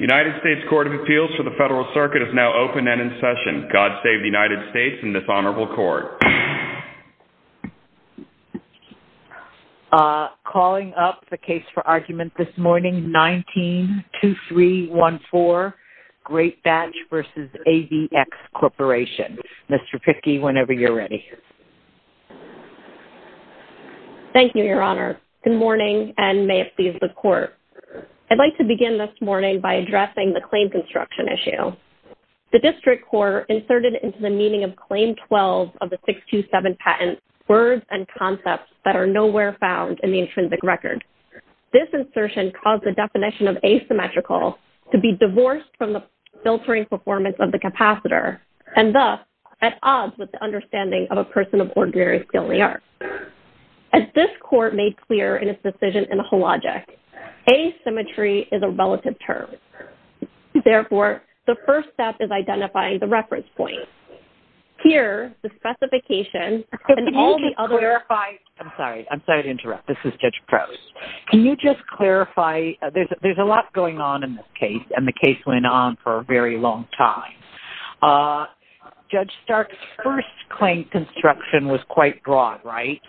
United States Court of Appeals for the Federal Circuit is now open and in session. God save the United States and this Honorable Court. Calling up the case for argument this morning 19-2314 Greatbatch v. AVX Corporation. Mr. Pickey, whenever you're ready. Thank you, Your Honor. Good morning and may it please the Court. I'd like to begin this morning by addressing the claim construction issue. The District Court inserted into the meaning of Claim 12 of the 627 patent words and concepts that are nowhere found in the intrinsic record. This insertion caused the definition of asymmetrical to be divorced from the filtering performance of the capacitor and thus at odds with the understanding of a person of ordinary skill in the arts. As this Court made clear in its decision in the whole logic, asymmetry is a relative term. Therefore, the first step is identifying the reference point. Here, the specification. Can you just clarify? I'm sorry. I'm sorry to interrupt. This is Judge Prowse. Can you just clarify? There's a lot going on in this case and the case went on for a very long time. Judge Stark's first claim construction was quite broad, right?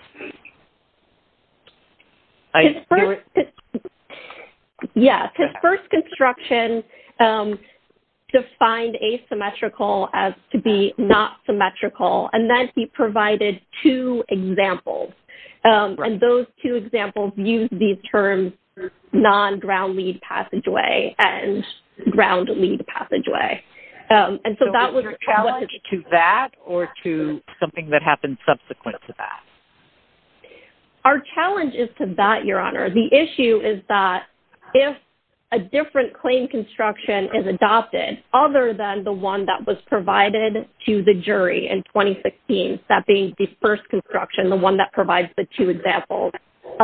His first construction defined asymmetrical as to be not symmetrical and then he provided two examples. And those two examples used these terms non-ground lead passageway and ground lead passageway. Was there a challenge to that or to something that happened subsequent to that? Our challenge is to that, Your Honor. The issue is that if a different claim construction is adopted other than the one that was provided to the jury in 2016, that being the first construction, the one that provides the two examples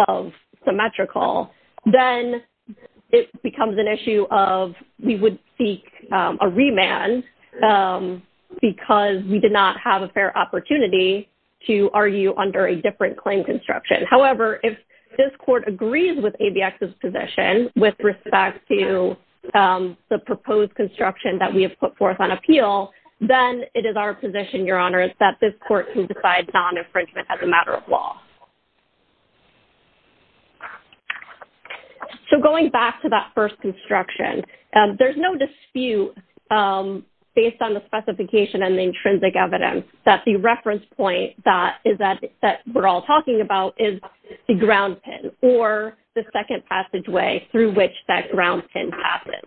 of symmetrical, then it becomes an issue of we would seek a remand because we did not have a fair opportunity to argue under a different claim construction. However, if this Court agrees with ABX's position with respect to the proposed construction that we have put forth on appeal, then it is our position, Your Honor, that this Court can decide non-infringement as a matter of law. So going back to that first construction, there's no dispute based on the specification and the intrinsic evidence that the reference point that we're all talking about is the ground pin or the second passageway through which that ground pin passes.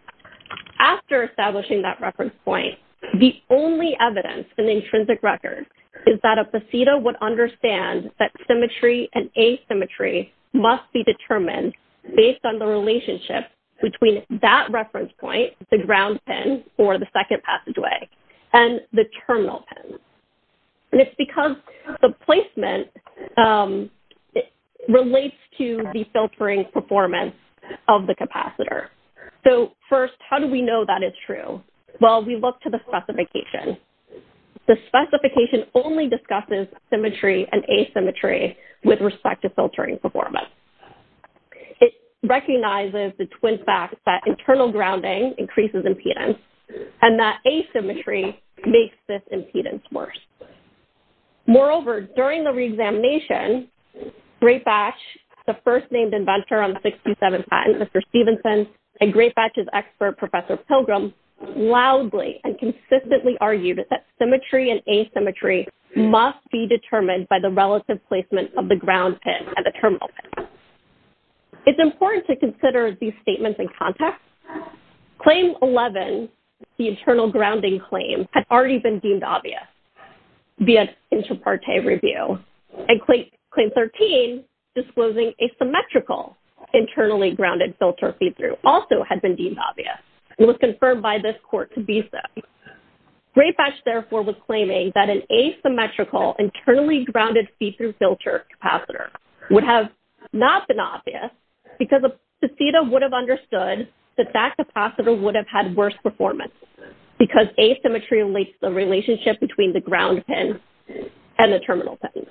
After establishing that reference point, the only evidence in the intrinsic record is that a PECIDA would understand that symmetry and asymmetry must be determined based on the relationship between that reference point, the ground pin or the second passageway, and the terminal pin. And it's because the placement relates to the filtering performance of the capacitor. So first, how do we know that it's true? Well, we look to the specification. The specification only discusses symmetry and asymmetry with respect to filtering performance. It recognizes the twin facts that internal grounding increases impedance and that asymmetry makes this impedance worse. Moreover, during the reexamination, Greatbatch, the first named inventor on the 627 patent, Mr. Stevenson, and Greatbatch's expert, Professor Pilgrim, loudly and consistently argued that symmetry and asymmetry must be determined by the relative placement of the ground pin and the terminal pin. It's important to consider these statements in context. Claim 11, the internal grounding claim, had already been deemed obvious. It would be an inter parte review. And Claim 13, disclosing asymmetrical internally grounded filter feedthrough, also had been deemed obvious. It was confirmed by this court to be so. Greatbatch, therefore, was claiming that an asymmetrical internally grounded feedthrough filter capacitor would have not been obvious because a PECIDA would have understood that that capacitor would have had worse performance because asymmetry links the relationship between the ground pin and the terminal pin.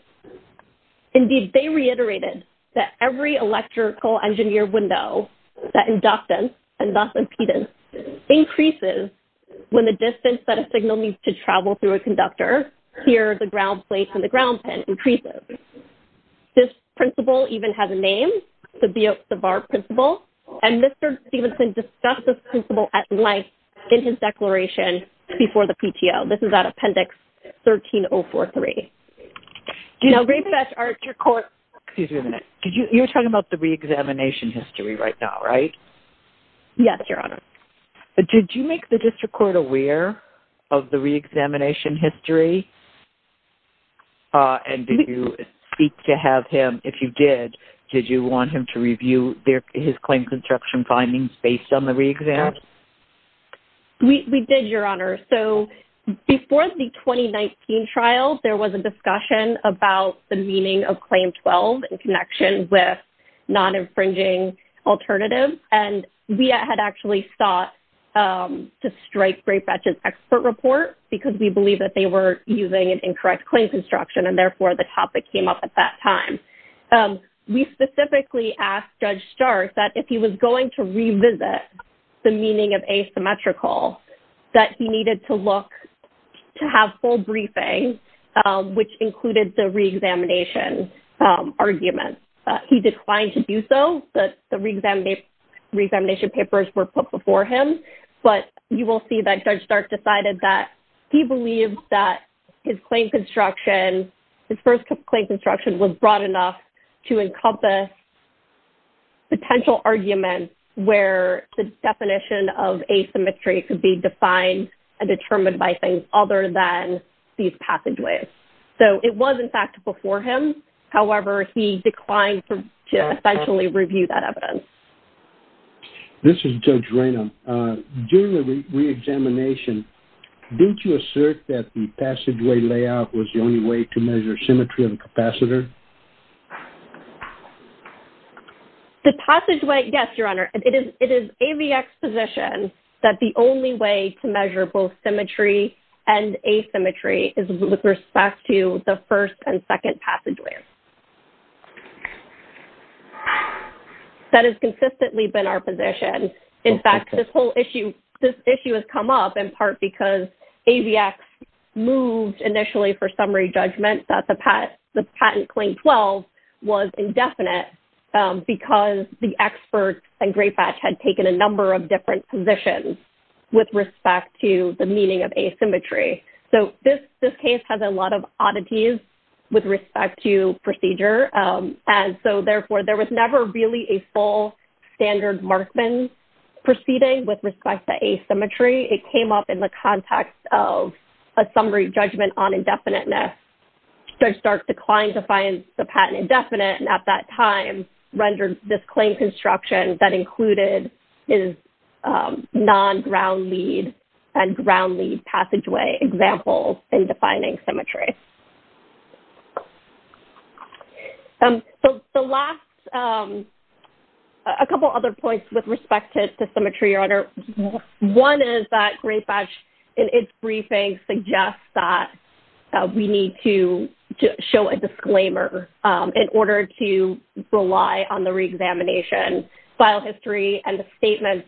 Indeed, they reiterated that every electrical engineer window, that inductance and thus impedance, increases when the distance that a signal needs to travel through a conductor, here the ground plate and the ground pin, increases. This principle even has a name, the Biot-Savart principle, and Mr. Stevenson discussed this principle at length in his declaration before the PTO. This is at Appendix 13043. Now Greatbatch, your court... Excuse me a minute. You're talking about the re-examination history right now, right? Yes, Your Honor. Did you make the district court aware of the re-examination history? And did you seek to have him, if you did, did you want him to review his claim construction findings based on the re-exam? We did, Your Honor. So before the 2019 trial, there was a discussion about the meaning of Claim 12 in connection with non-infringing alternatives. And we had actually sought to strike Greatbatch's expert report because we believe that they were using an incorrect claim construction and therefore the topic came up at that time. We specifically asked Judge Stark that if he was going to revisit the meaning of asymmetrical, that he needed to look to have full briefing, which included the re-examination argument. He declined to do so. The re-examination papers were put before him. But you will see that Judge Stark decided that he believed that his claim construction, his first claim construction was broad enough to encompass potential arguments where the definition of asymmetry could be defined and determined by things other than these passageways. So it was, in fact, before him. However, he declined to essentially review that evidence. This is Judge Ranum. During the re-examination, didn't you assert that the passageway layout was the only way to measure symmetry of the capacitor? The passageway, yes, Your Honor. It is AVX position that the only way to measure both symmetry and asymmetry is with respect to the first and second passageways. That has consistently been our position. In fact, this whole issue has come up in part because AVX moved initially for summary judgment that the patent claim 12 was indefinite because the experts and Grayfatch had taken a number of different positions with respect to the meaning of asymmetry. So this case has a lot of oddities with respect to procedure. And so, therefore, there was never really a full standard markman proceeding with respect to asymmetry. It came up in the context of a summary judgment on indefiniteness. Judge Stark declined to find the patent indefinite and at that time rendered this claim construction that included his non-ground-lead and ground-lead passageway example in defining symmetry. The last, a couple other points with respect to symmetry, Your Honor. One is that Grayfatch in its briefing suggests that we need to show a disclaimer in order to rely on the re-examination, file history, and the statements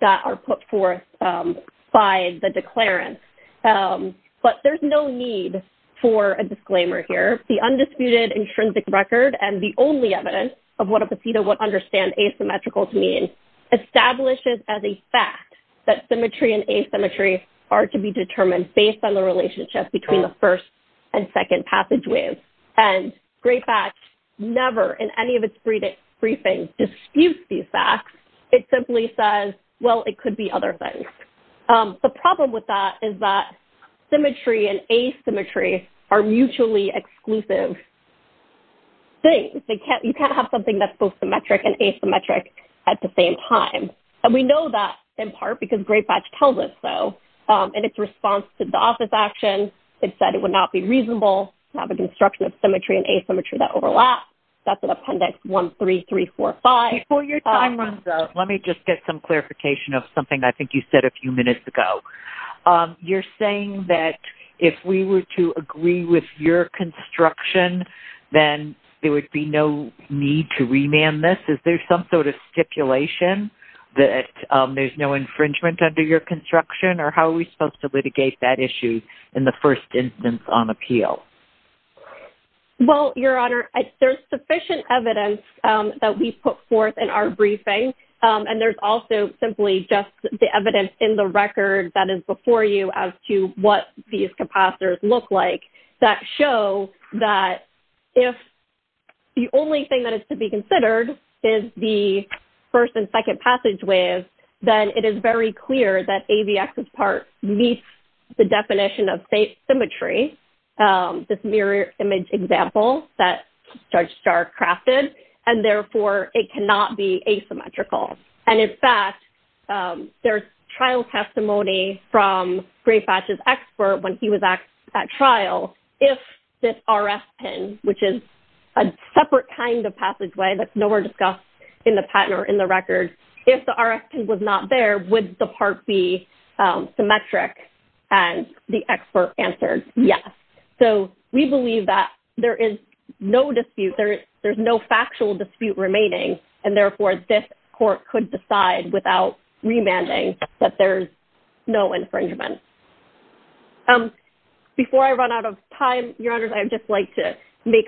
that are put forth by the declarant. But there's no need for a disclaimer here. The undisputed intrinsic record and the only evidence of what a PCTA would understand asymmetrical to mean establishes as a fact that symmetry and asymmetry are to be determined based on the relationship between the first and second passageways. And Grayfatch never in any of its briefings disputes these facts. It simply says, well, it could be other things. The problem with that is that symmetry and asymmetry are mutually exclusive things. You can't have something that's both symmetric and asymmetric at the same time. And we know that in part because Grayfatch tells us so. In its response to the office action, it said it would not be reasonable to have a construction of symmetry and asymmetry that overlap. That's in Appendix 13345. Before your time runs out, let me just get some clarification of something I think you said a few minutes ago. You're saying that if we were to agree with your construction, then there would be no need to remand this? Is there some sort of stipulation that there's no infringement under your construction? Or how are we supposed to litigate that issue in the first instance on appeal? Well, Your Honor, there's sufficient evidence that we put forth in our briefing. And there's also simply just the evidence in the record that is before you as to what these capacitors look like that show that if the only thing that is to be considered is the first and second passageways, then it is very clear that AVX's part meets the definition of symmetry, this mirror image example that Judge Starr crafted. And therefore, it cannot be asymmetrical. And in fact, there's trial testimony from Grayfatch's expert when he was at trial. If this RF pin, which is a separate kind of passageway that's nowhere discussed in the patent or in the record, if the RF pin was not there, would the part be symmetric? And the expert answered yes. So we believe that there is no dispute. There's no factual dispute remaining. And therefore, this court could decide without remanding that there's no infringement. Before I run out of time, Your Honors, I would just like to make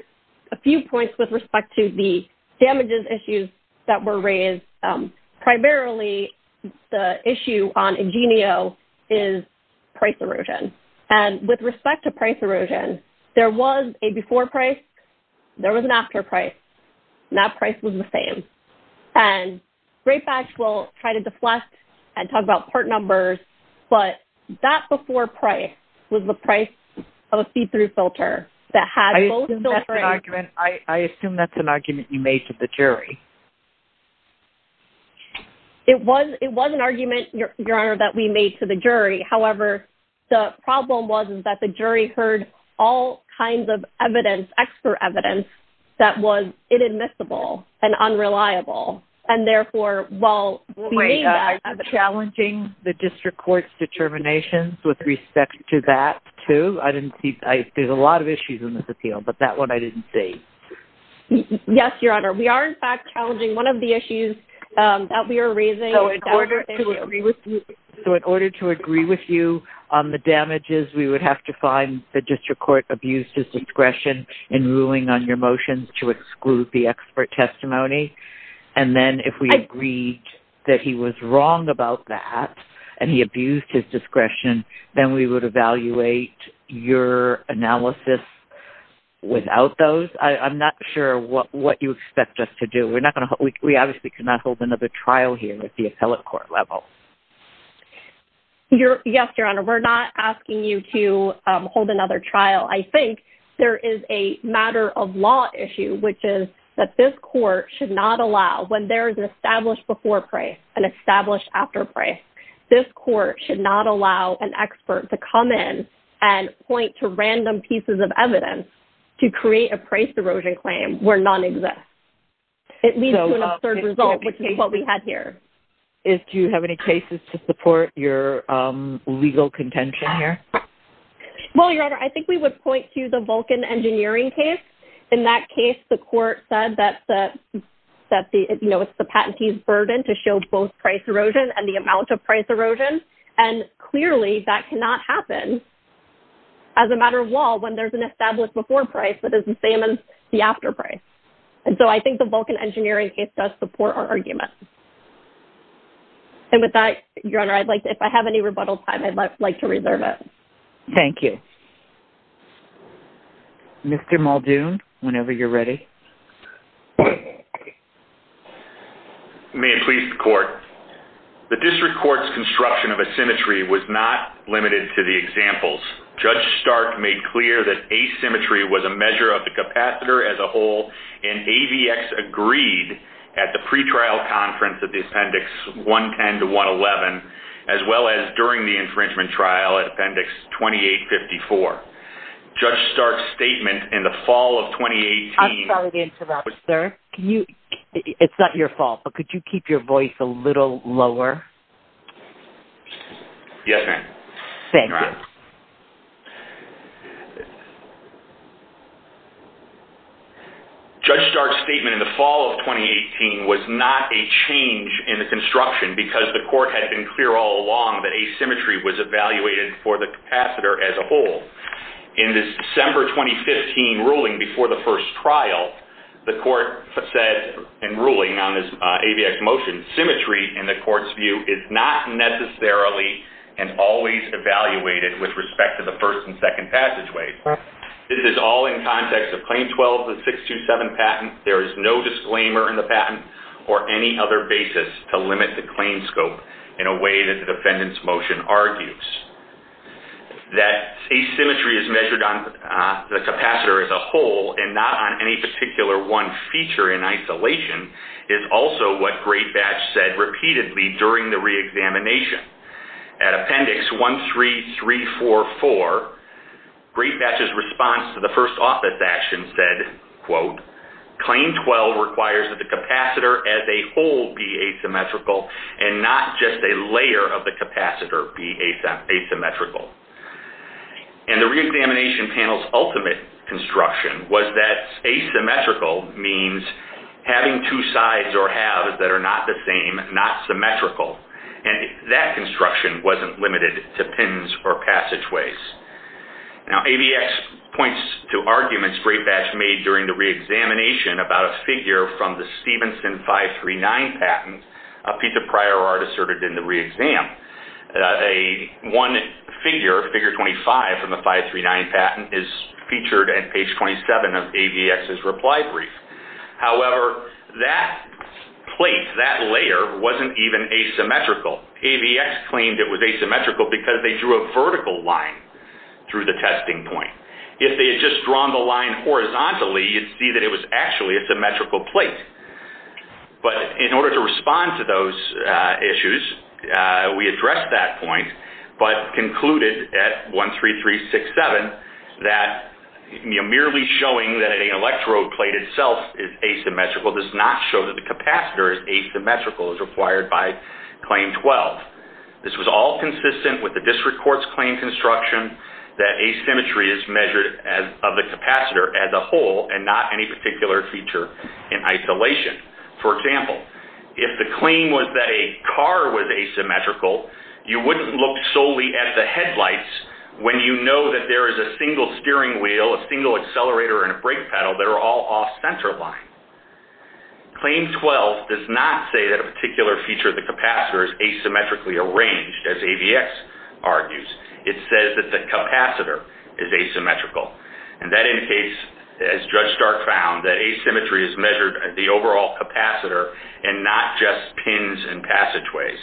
a few points with respect to the damages issues that were raised. Primarily, the issue on EG&EO is price erosion. And with respect to price erosion, there was a before price. There was an after price. And that price was the same. And Grayfatch will try to deflect and talk about part numbers. But that before price was the price of a see-through filter that had both filters. I assume that's an argument you made to the jury. It was an argument, Your Honor, that we made to the jury. However, the problem was that the jury heard all kinds of evidence, expert evidence, that was inadmissible and unreliable. And therefore, while we made that. Are you challenging the district court's determinations with respect to that, too? There's a lot of issues in this appeal, but that one I didn't see. Yes, Your Honor. We are, in fact, challenging one of the issues that we are raising. So in order to agree with you on the damages, we would have to find the district court abused his discretion in ruling on your motions to exclude the expert testimony. And then if we agreed that he was wrong about that and he abused his discretion, then we would evaluate your analysis without those. I'm not sure what you expect us to do. We obviously cannot hold another trial here at the appellate court level. Yes, Your Honor. We're not asking you to hold another trial. I think there is a matter of law issue, which is that this court should not allow, when there is an established before price, an established after price, this court should not allow an expert to come in and point to random pieces of evidence to create a price erosion claim where none exists. It leads to an absurd result, which is what we had here. Do you have any cases to support your legal contention here? Well, Your Honor, I think we would point to the Vulcan engineering case. In that case, the court said that it's the patentee's burden to show both price erosion and the amount of price erosion. And clearly, that cannot happen as a matter of law when there's an established before price that is the same as the after price. And so I think the Vulcan engineering case does support our argument. And with that, Your Honor, if I have any rebuttal time, I'd like to reserve it. Thank you. Mr. Muldoon, whenever you're ready. May it please the court. The district court's construction of asymmetry was not limited to the examples. Judge Stark made clear that asymmetry was a measure of the capacitor as a whole. And AVX agreed at the pretrial conference of the Appendix 110 to 111, as well as during the infringement trial at Appendix 2854. Judge Stark's statement in the fall of 2018... I'm sorry to interrupt, sir. It's not your fault, but could you keep your voice a little lower? Yes, ma'am. Thank you. Judge Stark's statement in the fall of 2018 was not a change in the construction because the court had been clear all along that asymmetry was evaluated for the capacitor as a whole. In the December 2015 ruling before the first trial, the court said in ruling on this AVX motion, symmetry, in the court's view, is not necessarily and always evaluated with respect to the first and second passageways. This is all in context of Claim 12 and 627 patent. There is no disclaimer in the patent or any other basis to limit the claim scope in a way that the defendant's motion argues. That asymmetry is measured on the capacitor as a whole and not on any particular one feature in isolation is also what Greatbatch said repeatedly during the reexamination. At Appendix 13344, Greatbatch's response to the first office action said, quote, Claim 12 requires that the capacitor as a whole be asymmetrical and not just a layer of the capacitor be asymmetrical. And the reexamination panel's ultimate construction was that asymmetrical means having two sides or halves that are not the same, not symmetrical. And that construction wasn't limited to pins or passageways. Now, AVX points to arguments Greatbatch made during the reexamination about a figure from the Stevenson 539 patent, a piece of prior art asserted in the reexam. One figure, figure 25 from the 539 patent, is featured at page 27 of AVX's reply brief. However, that plate, that layer, wasn't even asymmetrical. AVX claimed it was asymmetrical because they drew a vertical line through the testing point. If they had just drawn the line horizontally, you'd see that it was actually a symmetrical plate. But in order to respond to those issues, we addressed that point, but concluded at 13367 that merely showing that an electrode plate itself is asymmetrical does not show that the capacitor is asymmetrical as required by Claim 12. This was all consistent with the district court's claim construction that asymmetry is measured of the capacitor as a whole and not any particular feature in isolation. For example, if the claim was that a car was asymmetrical, you wouldn't look solely at the headlights when you know that there is a single steering wheel, a single accelerator, and a brake pedal that are all off center line. Claim 12 does not say that a particular feature of the capacitor is asymmetrically arranged, as AVX argues. It says that the capacitor is asymmetrical. And that indicates, as Judge Stark found, that asymmetry is measured at the overall capacitor and not just pins and passageways.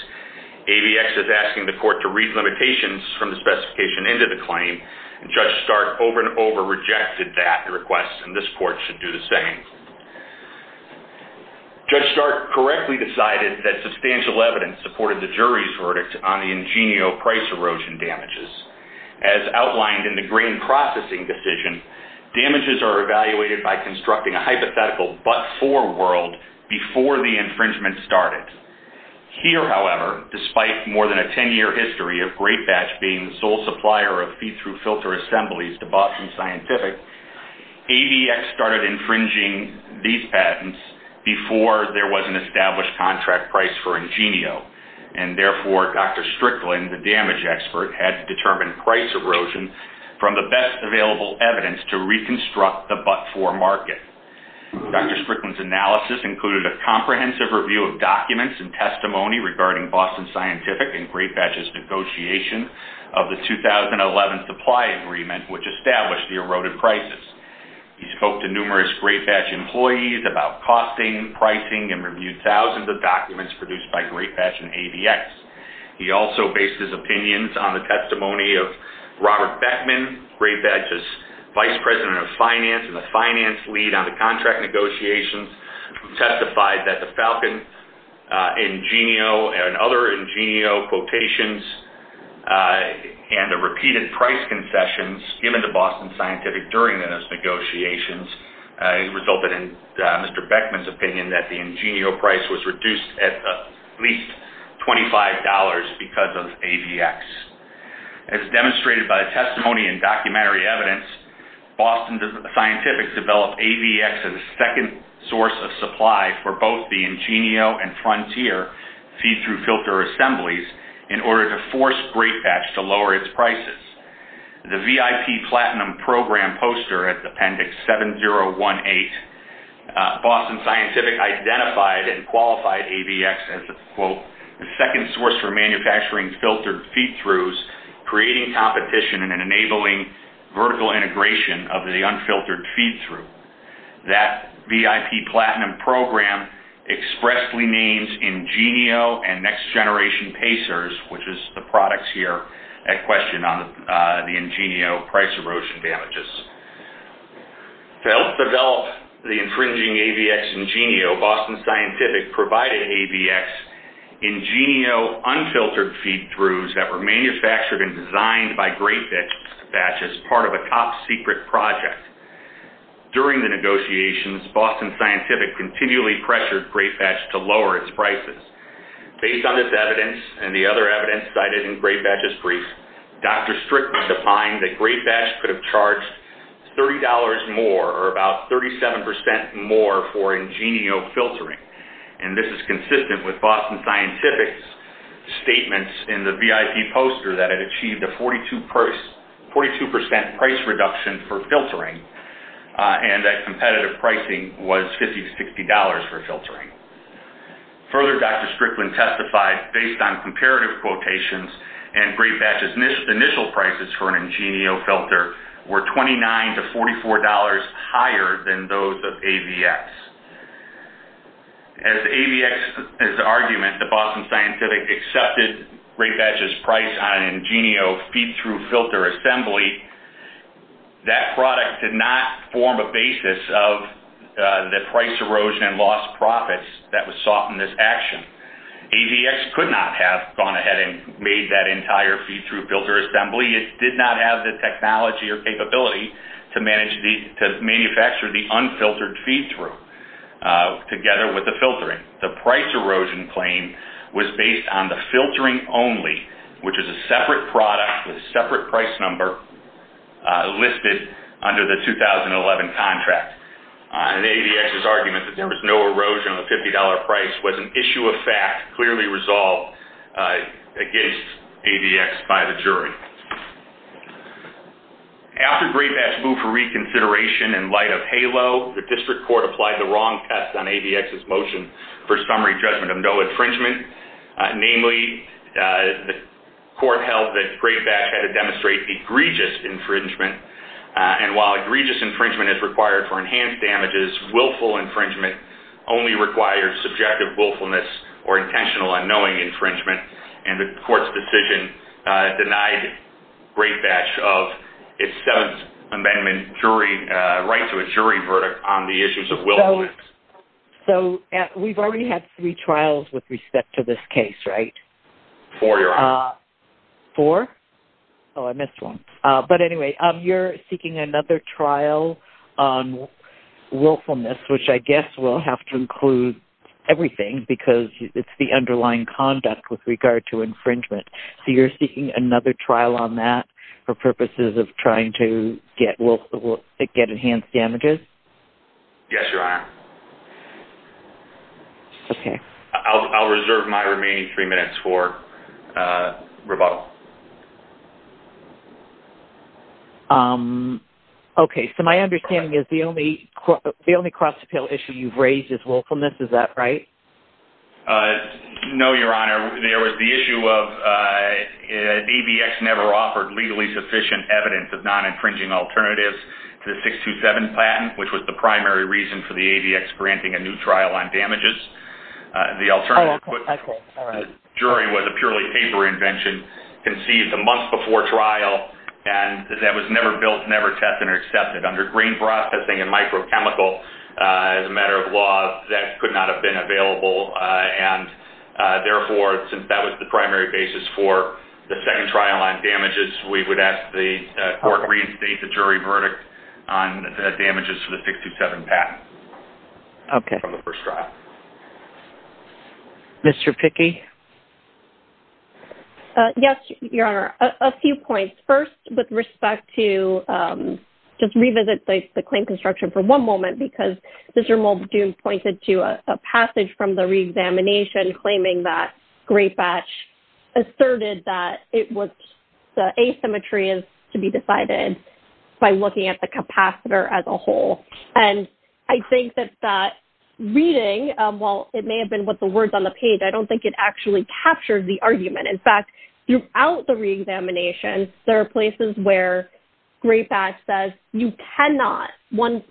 AVX is asking the court to read limitations from the specification into the claim, and Judge Stark over and over rejected that request, and this court should do the same. Judge Stark correctly decided that substantial evidence supported the jury's verdict on the Ingenio price erosion damages. As outlined in the grain processing decision, damages are evaluated by constructing a hypothetical but-for world before the infringement started. Here, however, despite more than a 10-year history of GreatBatch being the sole supplier of feed-through filter assemblies to Boston Scientific, AVX started infringing these patents before there was an established contract price for Ingenio. And therefore, Dr. Strickland, the damage expert, had to determine price erosion from the best available evidence to reconstruct the but-for market. Dr. Strickland's analysis included a comprehensive review of documents and testimony regarding Boston Scientific and GreatBatch's negotiation of the 2011 supply agreement, which established the eroded prices. He spoke to numerous GreatBatch employees about costing, pricing, and reviewed thousands of documents produced by GreatBatch and AVX. He also based his opinions on the testimony of Robert Beckman, GreatBatch's vice president of finance and the finance lead on the contract negotiations, who testified that the Falcon, Ingenio, and other Ingenio quotations and the repeated price confessions given to Boston Scientific during those negotiations resulted in Mr. Beckman's opinion that the Ingenio price was reduced at least $25 because of AVX. As demonstrated by testimony and documentary evidence, Boston Scientific developed AVX as a second source of supply for both the Ingenio and Frontier feed-through filter assemblies in order to force GreatBatch to lower its prices. The VIP Platinum Program poster at Appendix 7018, Boston Scientific identified and qualified AVX as, quote, the second source for manufacturing filtered feed-throughs, creating competition and enabling vertical integration of the unfiltered feed-through. That VIP Platinum Program expressly names Ingenio and Next Generation Pacers, which is the products here at question on the Ingenio price erosion damages. To help develop the infringing AVX Ingenio, Boston Scientific provided AVX Ingenio unfiltered feed-throughs that were manufactured and designed by GreatBatch as part of a top-secret project. During the negotiations, Boston Scientific continually pressured GreatBatch to lower its prices. Based on this evidence and the other evidence cited in GreatBatch's brief, Dr. Strickland defined that GreatBatch could have charged $30 more or about 37% more for Ingenio filtering. And this is consistent with Boston Scientific's statements in the VIP poster that it achieved a 42% price reduction for filtering and that competitive pricing was $50 to $60 for filtering. Further, Dr. Strickland testified, based on comparative quotations and GreatBatch's initial prices for an Ingenio filter, were $29 to $44 higher than those of AVX. As AVX's argument that Boston Scientific accepted GreatBatch's price on an Ingenio feed-through filter assembly, that product did not form a basis of the price erosion and lost profits that was sought in this action. AVX could not have gone ahead and made that entire feed-through filter assembly. It did not have the technology or capability to manufacture the unfiltered feed-through together with the filtering. The price erosion claim was based on the filtering only, which is a separate product with a separate price number listed under the 2011 contract. And AVX's argument that there was no erosion on the $50 price was an issue of fact, clearly resolved against AVX by the jury. After GreatBatch moved for reconsideration in light of HALO, the district court applied the wrong test on AVX's motion for summary judgment of no infringement. Namely, the court held that GreatBatch had to demonstrate egregious infringement. And while egregious infringement is required for enhanced damages, willful infringement only requires subjective willfulness or intentional unknowing infringement. And the court's decision denied GreatBatch of its Seventh Amendment right to a jury verdict on the issues of willfulness. So we've already had three trials with respect to this case, right? Four, Your Honor. Four? Oh, I missed one. But anyway, you're seeking another trial on willfulness, which I guess will have to include everything because it's the underlying conduct with regard to infringement. So you're seeking another trial on that for purposes of trying to get enhanced damages? Yes, Your Honor. Okay. I'll reserve my remaining three minutes for rebuttal. Okay, so my understanding is the only cross-appeal issue you've raised is willfulness, is that right? No, Your Honor. There was the issue of ABX never offered legally sufficient evidence of non-infringing alternatives to the 627 patent, which was the primary reason for the ABX granting a new trial on damages. The jury was a purely paper invention conceived a month before trial, and that was never built, never tested, or accepted. Under green processing and microchemical, as a matter of law, that could not have been available. And therefore, since that was the primary basis for the second trial on damages, we would ask the court reinstate the jury verdict on the damages for the 627 patent. Okay. From the first trial. Mr. Pickey? Yes, Your Honor. A few points. First, with respect to just revisit the claim construction for one moment, because Mr. Muldoon pointed to a passage from the reexamination claiming that Great Batch asserted that it was the asymmetry is to be decided by looking at the capacitor as a whole. And I think that that reading, while it may have been what the words on the page, I don't think it actually captured the argument. In fact, throughout the reexamination, there are places where Great Batch says you cannot,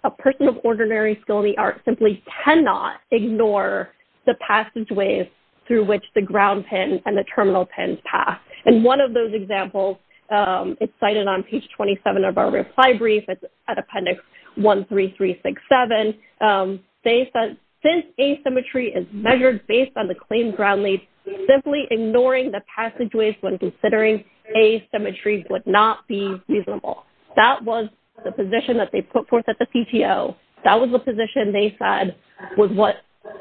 a person of ordinary skill in the art, simply cannot ignore the passageways through which the ground pins and the terminal pins pass. And one of those examples, it's cited on page 27 of our reply brief. It's at appendix 13367. They said, since asymmetry is measured based on the claim ground leads, simply ignoring the passageways when considering asymmetry would not be reasonable. That was the position that they put forth at the PTO. That was the position they said was what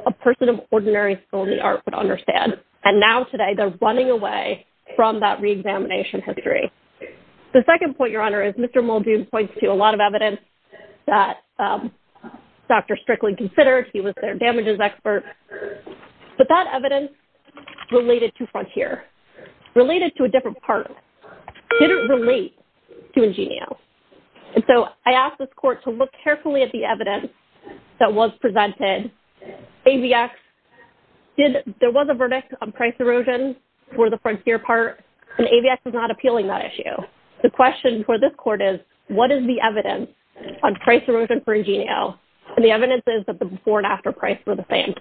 a person of ordinary skill in the art would understand. And now today, they're running away from that reexamination history. The second point, Your Honor, is Mr. Muldoon points to a lot of evidence that Dr. Strickland considered. He was their damages expert. But that evidence related to Frontier, related to a different part, didn't relate to Ingenio. And so I asked this court to look carefully at the evidence that was presented. AVX, there was a verdict on price erosion for the Frontier part. And AVX is not appealing that issue. The question for this court is, what is the evidence on price erosion for Ingenio? And the evidence is that the before and after price were the same.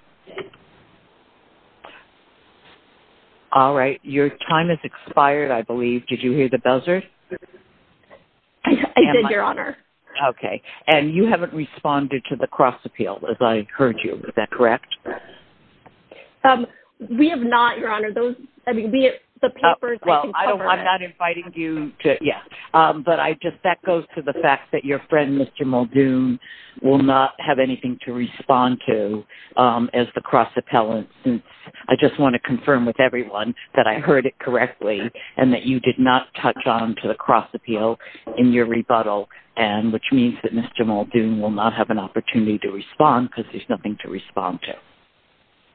All right. Your time has expired, I believe. Did you hear the buzzer? I did, Your Honor. Okay. And you haven't responded to the cross-appeal, as I heard you. Is that correct? We have not, Your Honor. Well, I'm not inviting you to... Yeah. But that goes to the fact that your friend, Mr. Muldoon, will not have anything to respond to as the cross-appellant. I just want to confirm with everyone that I heard it correctly and that you did not touch on to the cross-appeal in your rebuttal, which means that Mr. Muldoon will not have an opportunity to respond because there's nothing to respond to.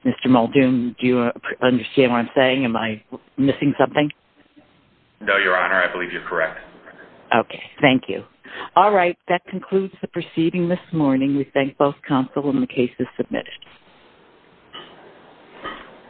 Mr. Muldoon, do you understand what I'm saying? Am I missing something? No, Your Honor. I believe you're correct. Okay. Thank you. All right. That concludes the proceeding this morning. We thank both counsel and the cases submitted. Thank you.